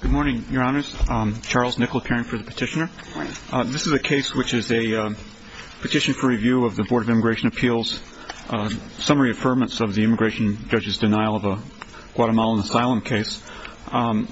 Good morning, your honors. Charles Nickel, appearing for the petitioner. This is a case which is a petition for review of the Board of Immigration Appeals' summary affirmance of the immigration judge's denial of a Guatemalan asylum case. On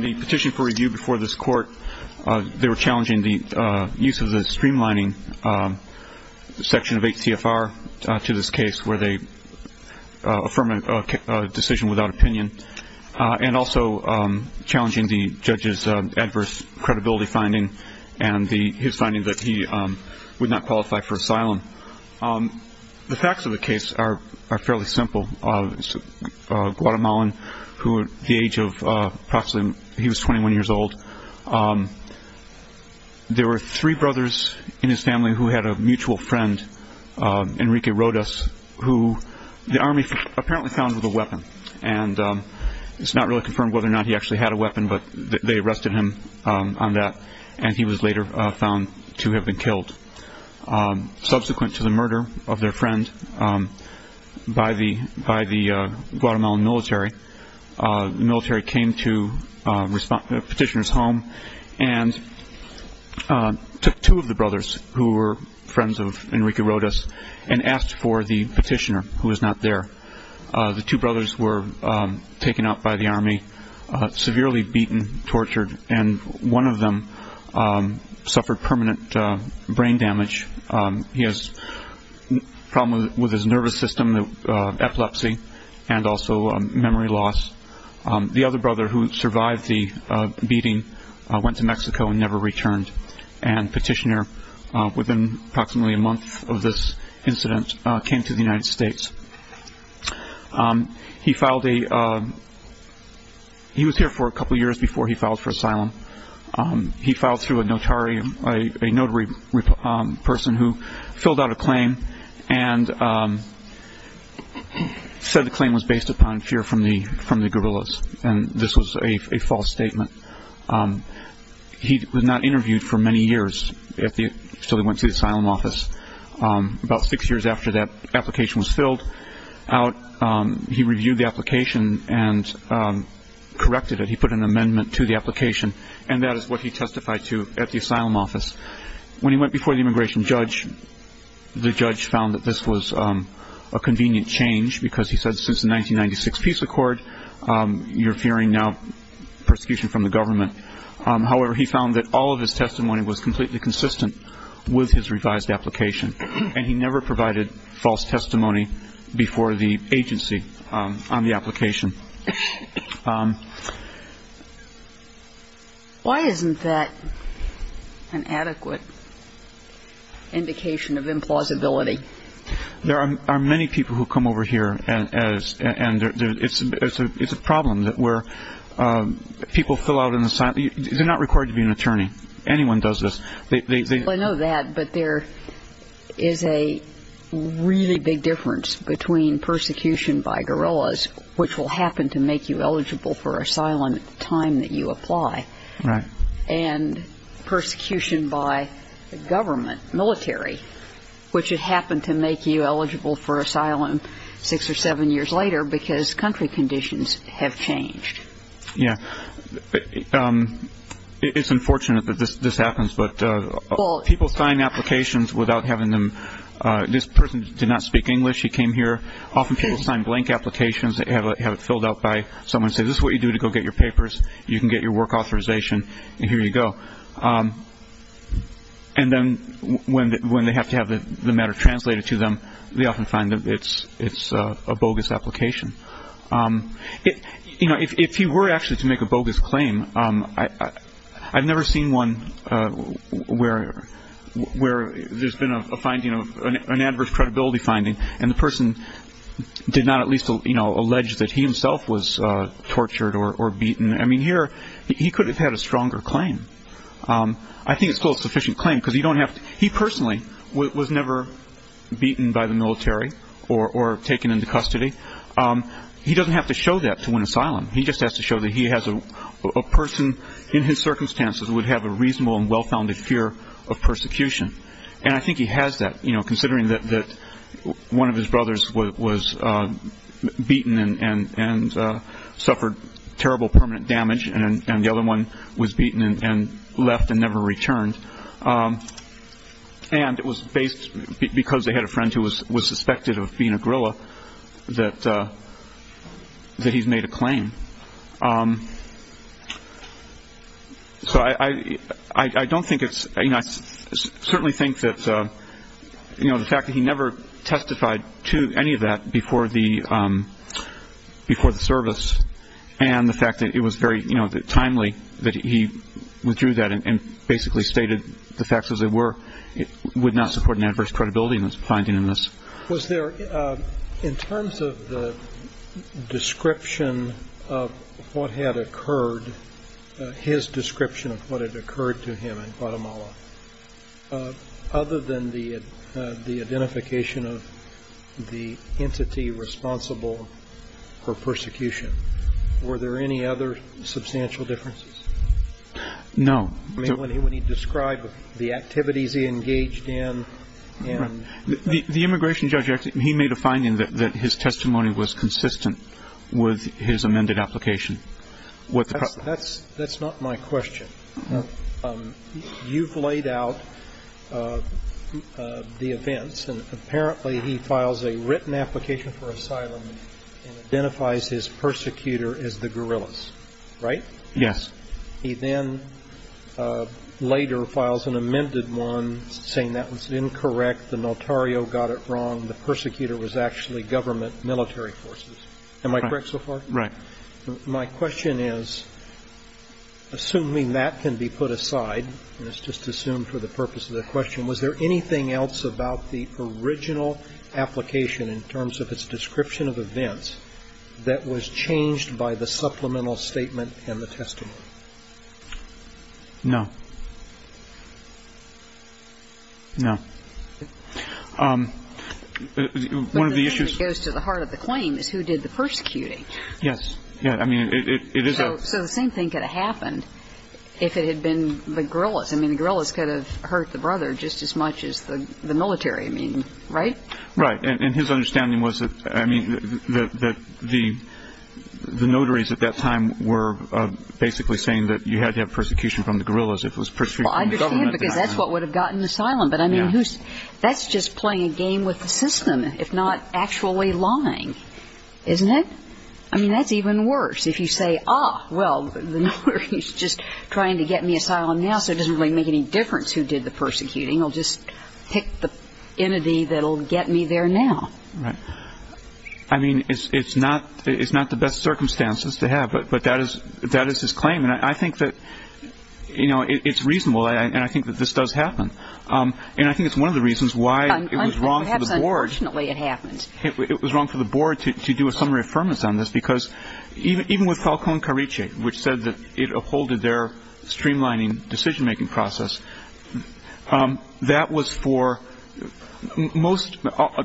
the petition for review before this court, they were challenging the use of the streamlining section of HCFR to this case where they affirm a decision without opinion, and also challenging the judge's adverse credibility finding and his finding that he would not qualify for asylum. The facts of the case are fairly simple. A Guatemalan who at the age of approximately 21 years old, there were three brothers in his family who had a mutual friend, Enrique Rodas, who the army apparently found with a weapon. It's not really confirmed whether or not he actually had a weapon, but they arrested him on that, and he was later found to have been killed. Subsequent to the murder of their friend by the Guatemalan military, the military came to the petitioner's home and took two of the brothers, who were friends of Enrique Rodas, and asked for the petitioner who was not there. The two brothers were taken out by the army, severely beaten, tortured, and one of them suffered permanent brain damage. He has a problem with his nervous system, epilepsy, and also memory loss. The other brother who survived the beating went to Mexico and never returned, and the petitioner, within approximately a month of this incident, came to the United States. He was here for a couple of years before he filed for asylum. He filed through a notary person who filled out a claim and said the claim was based upon fear from the guerrillas, and this was a false statement. He was not interviewed for many years until he went to the asylum office. About six years after that application was filled out, he reviewed the application and corrected it. He put an amendment to the application, and that is what he testified to at the asylum office. When he went before the immigration judge, the judge found that this was a convenient change because he said since the 1996 peace accord, you're fearing now persecution from the government. However, he found that all of his testimony was completely consistent with his revised application, and he never provided false testimony before the agency on the application. Why isn't that an adequate indication of implausibility? There are many people who come over here, and it's a problem where people fill out an asylum. They're not required to be an attorney. Anyone does this. I know that, but there is a really big difference between persecution by guerrillas, which will happen to make you eligible for asylum at the time that you apply, and persecution by the government, military, which would happen to make you eligible for asylum six or seven years later because country conditions have changed. Yeah. It's unfortunate that this happens, but people sign applications without having them. This person did not speak English. He came here. Often people sign blank applications that have it filled out by someone and say, this is what you do to go get your papers. You can get your work authorization, and here you go. And then when they have to have the matter translated to them, they often find that it's a bogus application. If he were actually to make a bogus claim, I've never seen one where there's been an adverse credibility finding, and the person did not at least allege that he himself was tortured or beaten. Here, he could have had a stronger claim. I think it's still a sufficient claim because he personally was never beaten by the military or taken into custody. He doesn't have to show that to win asylum. He just has to show that a person in his circumstances would have a reasonable and well-founded fear of persecution. And I think he has that, you know, considering that one of his brothers was beaten and suffered terrible permanent damage, and the other one was beaten and left and never returned. And it was based because they had a friend who was suspected of being a guerrilla that he's made a claim. So I don't think it's, you know, I certainly think that, you know, the fact that he never testified to any of that before the service, and the fact that it was very timely that he withdrew that and basically stated the facts as they were, would not support an adverse credibility finding in this. Was there, in terms of the description of what had occurred, his description of what had occurred to him in Guatemala, other than the identification of the entity responsible for persecution, were there any other substantial differences? No. I mean, when he described the activities he engaged in. The immigration judge, he made a finding that his testimony was consistent with his amended application. That's not my question. You've laid out the events, and apparently he files a written application for asylum and identifies his persecutor as the guerrillas, right? Yes. He then later files an amended one saying that was incorrect, the notario got it wrong, the persecutor was actually government military forces. Am I correct so far? Right. My question is, assuming that can be put aside, and it's just assumed for the purpose of the question, was there anything else about the original application in terms of its description of events that was changed by the supplemental statement and the testimony? No. No. One of the issues. It goes to the heart of the claim is who did the persecuting. Yes. I mean, it is a. So the same thing could have happened if it had been the guerrillas. I mean, the guerrillas could have hurt the brother just as much as the military, right? Right. And his understanding was that, I mean, that the notaries at that time were basically saying that you had to have persecution from the guerrillas if it was pursued from the government. I understand because that's what would have gotten asylum. But I mean, that's just playing a game with the system, if not actually lying, isn't it? I mean, that's even worse. If you say, ah, well, the notary is just trying to get me asylum now, so it doesn't really make any difference who did the persecuting. It'll just pick the entity that'll get me there now. Right. I mean, it's not the best circumstances to have. But that is his claim. And I think that, you know, it's reasonable. And I think that this does happen. And I think it's one of the reasons why it was wrong for the board. Perhaps unfortunately it happened. It was wrong for the board to do a summary affirmation on this because even with Falcone Carice, which said that it upholded their streamlining decision-making process, that was for most,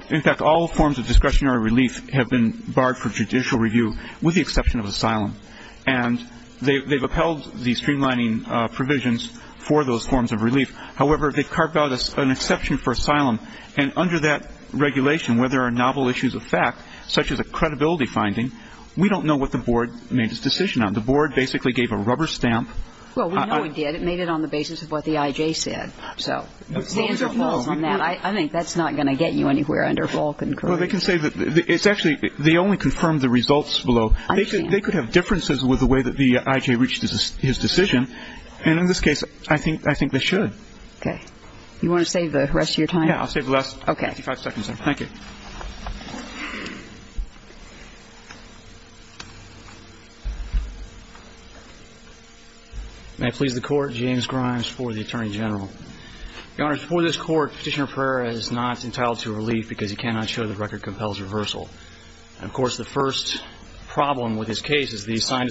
in fact all forms of discretionary relief have been barred for judicial review with the exception of asylum. And they've upheld the streamlining provisions for those forms of relief. However, they've carved out an exception for asylum. And under that regulation, where there are novel issues of fact, such as a credibility finding, we don't know what the board made its decision on. The board basically gave a rubber stamp. Well, we know it did. It made it on the basis of what the I.J. said. So the answer falls on that. I think that's not going to get you anywhere under Falcone Carice. Well, they can say that it's actually they only confirmed the results below. They could have differences with the way that the I.J. reached his decision. And in this case, I think they should. Okay. You want to save the rest of your time? Yeah, I'll save the last 55 seconds. Thank you. May it please the Court. James Grimes for the Attorney General. Your Honors, before this Court, Petitioner Pereira is not entitled to relief because he cannot show the record compels reversal. And, of course, the first problem with his case is he signed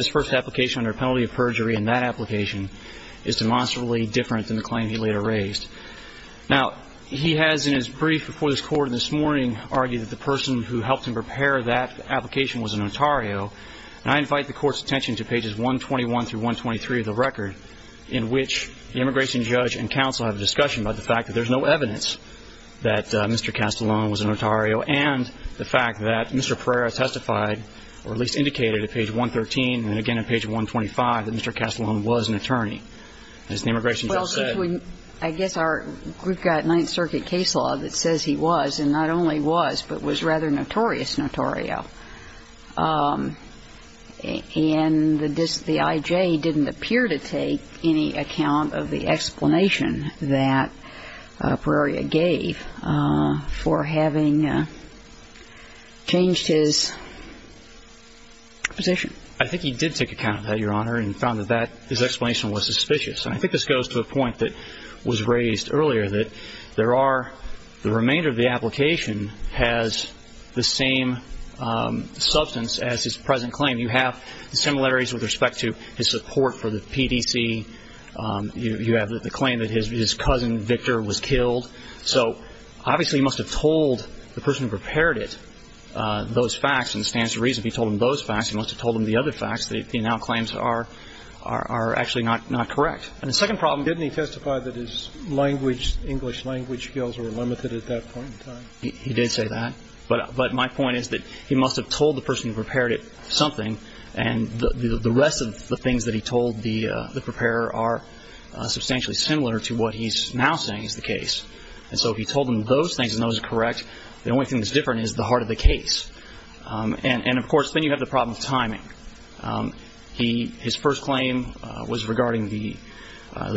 his first application under a penalty of perjury, and that application is demonstrably different than the claim he later raised. Now, he has in his brief before this Court this morning argued that the person who helped him prepare that application was a notario. And I invite the Court's attention to pages 121 through 123 of the record, in which the immigration judge and counsel have a discussion about the fact that there's no evidence that Mr. Castellon was a notario and the fact that Mr. Pereira testified, or at least indicated at page 113 and again at page 125, that Mr. Castellon was an attorney. And as the immigration judge said – Well, I guess our – we've got Ninth Circuit case law that says he was, and not only was, but was rather notorious notario. And the I.J. didn't appear to take any account of the explanation that Pereira gave for having changed his position. I think he did take account of that, Your Honor, and found that that – his explanation was suspicious. And I think this goes to a point that was raised earlier, that there are – the remainder of the application has the same substance as his present claim. You have the similarities with respect to his support for the PDC. You have the claim that his cousin, Victor, was killed. So obviously he must have told the person who prepared it those facts, and it stands to reason if he told them those facts, he must have told them the other facts that he now claims are actually not correct. And the second problem – Didn't he testify that his language – English language skills were limited at that point in time? He did say that. But my point is that he must have told the person who prepared it something, and the rest of the things that he told the preparer are substantially similar to what he's now saying is the case. And so if he told them those things and those are correct, the only thing that's different is the heart of the case. And, of course, then you have the problem of timing. His first claim was regarding the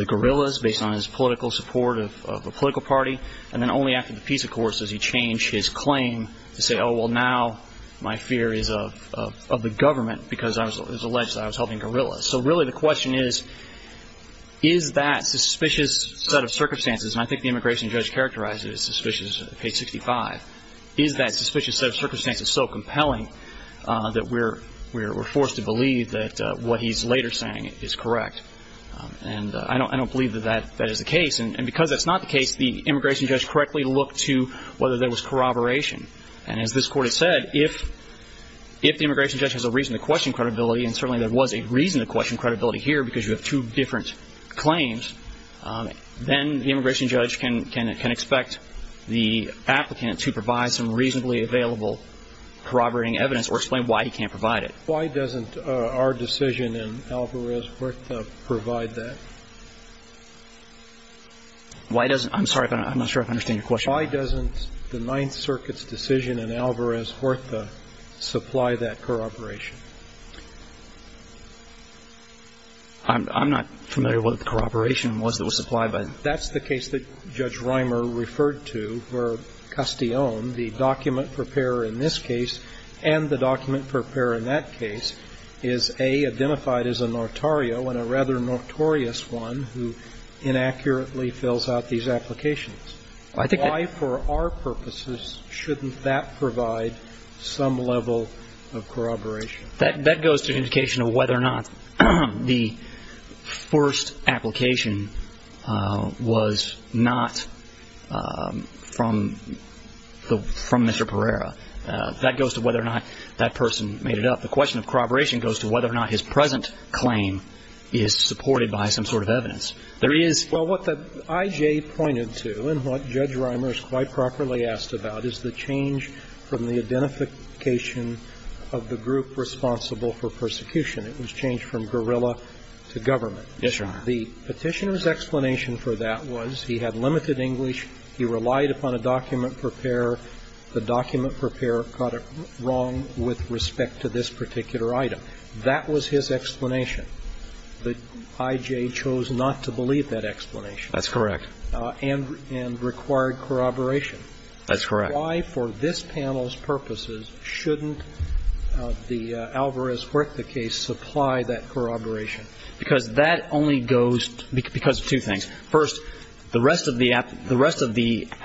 guerrillas based on his political support of a political party, and then only after the peace accords does he change his claim to say, oh, well, now my fear is of the government because it was alleged that I was helping guerrillas. So really the question is, is that suspicious set of circumstances – and I think the immigration judge characterized it as suspicious at page 65 – is that suspicious set of circumstances so compelling that we're forced to believe that what he's later saying is correct? And I don't believe that that is the case. And because that's not the case, the immigration judge correctly looked to whether there was corroboration. And as this Court has said, if the immigration judge has a reason to question credibility, and certainly there was a reason to question credibility here because you have two different claims, then the immigration judge can expect the applicant to provide some reasonably available corroborating evidence or explain why he can't provide it. Why doesn't our decision in Alvarez-Horta provide that? Why doesn't – I'm sorry. I'm not sure I understand your question. Why doesn't the Ninth Circuit's decision in Alvarez-Horta supply that corroboration? I'm not familiar what the corroboration was that was supplied by it. That's the case that Judge Reimer referred to where Castillon, the document preparer in this case, and the document preparer in that case is, A, identified as a notario and a rather notorious one who inaccurately fills out these applications. Why, for our purposes, shouldn't that provide some level of corroboration? That goes to indication of whether or not the first application was not from Mr. Pereira. That goes to whether or not that person made it up. The question of corroboration goes to whether or not his present claim is supported by some sort of evidence. There is – Well, what the I.J. pointed to and what Judge Reimer is quite properly asked about is the change from the identification of the group responsible for persecution. It was changed from guerrilla to government. Yes, Your Honor. The Petitioner's explanation for that was he had limited English, he relied upon a document preparer, the document preparer got it wrong with respect to this particular item. That was his explanation. The I.J. chose not to believe that explanation. That's correct. And required corroboration. That's correct. Why, for this panel's purposes, shouldn't the Alvarez-Huerta case supply that corroboration? Because that only goes – because of two things. First, the rest of the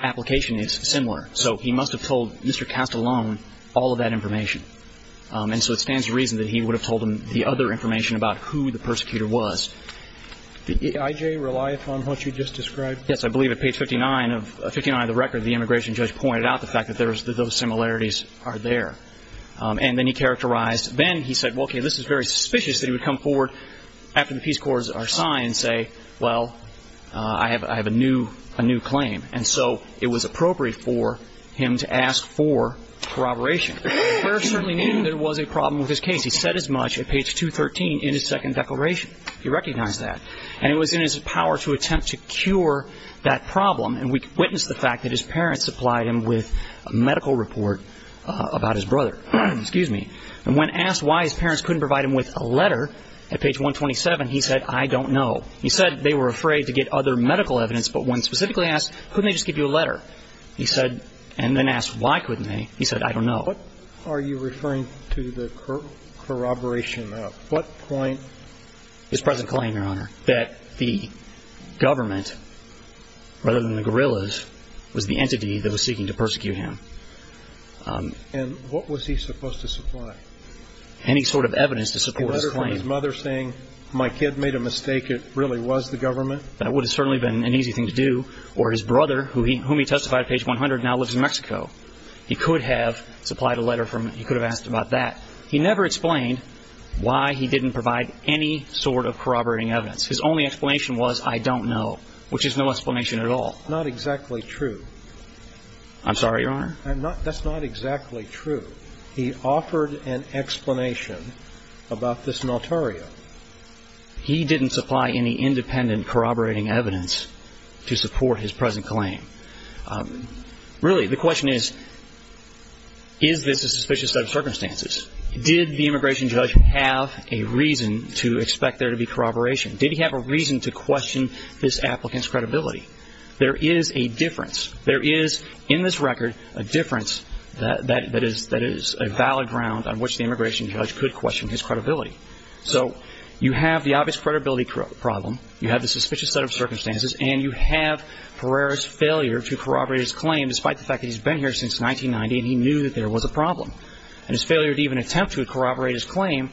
application is similar. So he must have told Mr. Castellon all of that information. And so it stands to reason that he would have told him the other information about who the persecutor was. Did I.J. rely upon what you just described? Yes, I believe at page 59 of the record, the immigration judge pointed out the fact that those similarities are there. And then he characterized – then he said, well, okay, this is very suspicious that he would come forward after the peace corps are signed and say, well, I have a new claim. And so it was appropriate for him to ask for corroboration. The preparer certainly knew there was a problem with his case. He said as much at page 213 in his second declaration. He recognized that. And it was in his power to attempt to cure that problem. And we witnessed the fact that his parents supplied him with a medical report about his brother. And when asked why his parents couldn't provide him with a letter at page 127, he said, I don't know. He said they were afraid to get other medical evidence. But when specifically asked, couldn't they just give you a letter? He said, and then asked, why couldn't they? He said, I don't know. What are you referring to the corroboration of? What point. His present claim, Your Honor, that the government, rather than the guerrillas, was the entity that was seeking to persecute him. And what was he supposed to supply? Any sort of evidence to support his claim. A letter from his mother saying, my kid made a mistake, it really was the government? That would have certainly been an easy thing to do. Or his brother, whom he testified at page 100, now lives in Mexico. He could have supplied a letter from, he could have asked about that. He never explained why he didn't provide any sort of corroborating evidence. His only explanation was, I don't know, which is no explanation at all. Not exactly true. I'm sorry, Your Honor? That's not exactly true. He offered an explanation about this notario. He didn't supply any independent corroborating evidence to support his present claim. Really, the question is, is this a suspicious set of circumstances? Did the immigration judge have a reason to expect there to be corroboration? Did he have a reason to question this applicant's credibility? There is a difference. There is, in this record, a difference that is a valid ground on which the immigration judge could question his credibility. So you have the obvious credibility problem, you have the suspicious set of circumstances, and you have Pereira's failure to corroborate his claim despite the fact that he's been here since 1990 and he knew that there was a problem. And his failure to even attempt to corroborate his claim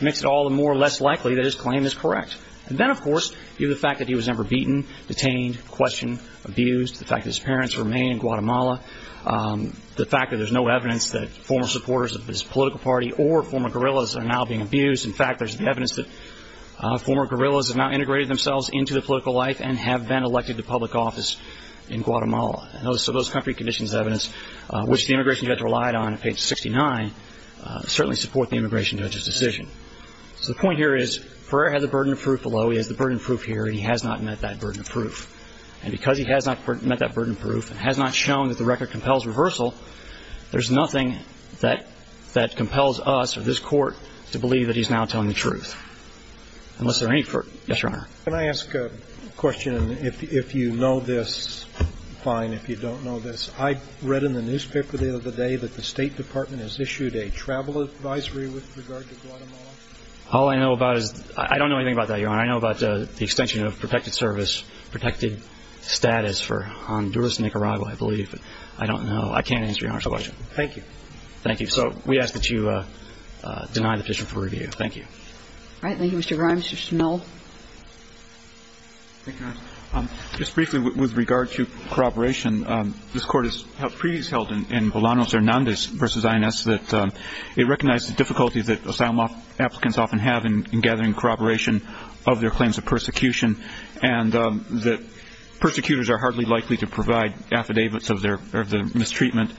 makes it all the more or less likely that his claim is correct. And then, of course, you have the fact that he was ever beaten, detained, questioned, abused, the fact that his parents remain in Guatemala, the fact that there's no evidence that former supporters of his political party or former guerrillas are now being abused. In fact, there's evidence that former guerrillas have now integrated themselves into the political life and have been elected to public office in Guatemala. So those country conditions evidence, which the immigration judge relied on at page 69, certainly support the immigration judge's decision. So the point here is Pereira has the burden of proof below, he has the burden of proof here, and he has not met that burden of proof. And because he has not met that burden of proof and has not shown that the record compels reversal, there's nothing that compels us or this Court to believe that he's now telling the truth, unless there are any. Yes, Your Honor. Can I ask a question, and if you know this, fine. If you don't know this, I read in the newspaper the other day that the State Department has issued a travel advisory with regard to Guatemala. All I know about is ñ I don't know anything about that, Your Honor. I know about the extension of protected service, protected status for Honduras to make arrival, I believe. I don't know. I can't answer Your Honor's question. Thank you. Thank you. So we ask that you deny the petition for review. Thank you. Thank you, Mr. Rimes. Mr. Snell. Thank you, Your Honor. Just briefly, with regard to corroboration, this Court has previously held in Bolanos Hernandez v. INS that it recognized the difficulties that asylum applicants often have in gathering corroboration of their claims of persecution and that persecutors are hardly likely to provide affidavits of the mistreatment.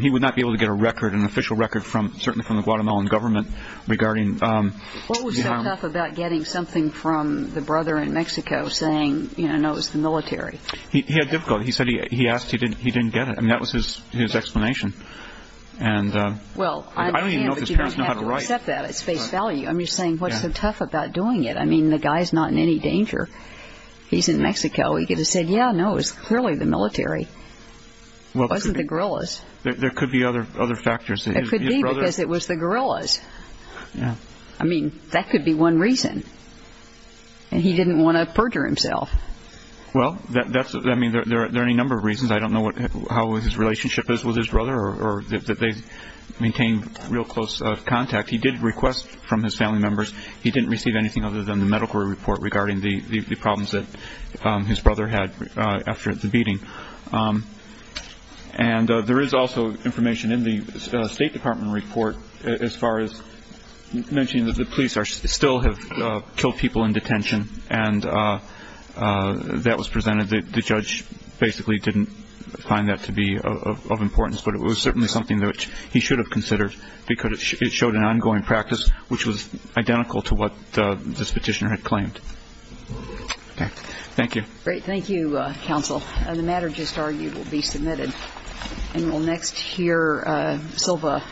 He would not be able to get a record, an official record, certainly from the Guatemalan government regarding ñ What was so tough about getting something from the brother in Mexico saying, you know, no, it was the military? He had difficulty. He said he asked, he didn't get it. I mean, that was his explanation. And I don't even know if his parents know how to write. Well, I understand, but you don't have to accept that at space value. I'm just saying, what's so tough about doing it? I mean, the guy's not in any danger. He's in Mexico. He could have said, yeah, no, it was clearly the military. It wasn't the guerrillas. There could be other factors. It could be because it was the guerrillas. Yeah. I mean, that could be one reason. And he didn't want to perjure himself. Well, that's ñ I mean, there are any number of reasons. I don't know what ñ how his relationship is with his brother or that they maintained real close contact. He did request from his family members. He didn't receive anything other than the medical report regarding the problems that his brother had after the beating. And there is also information in the State Department report as far as mentioning that the police still have killed people in detention. And that was presented. The judge basically didn't find that to be of importance, but it was certainly something that he should have considered because it showed an ongoing practice, which was identical to what this petitioner had claimed. Okay. Thank you. Great. Thank you, counsel. The matter just argued will be submitted. And we'll next hear Silva Cento.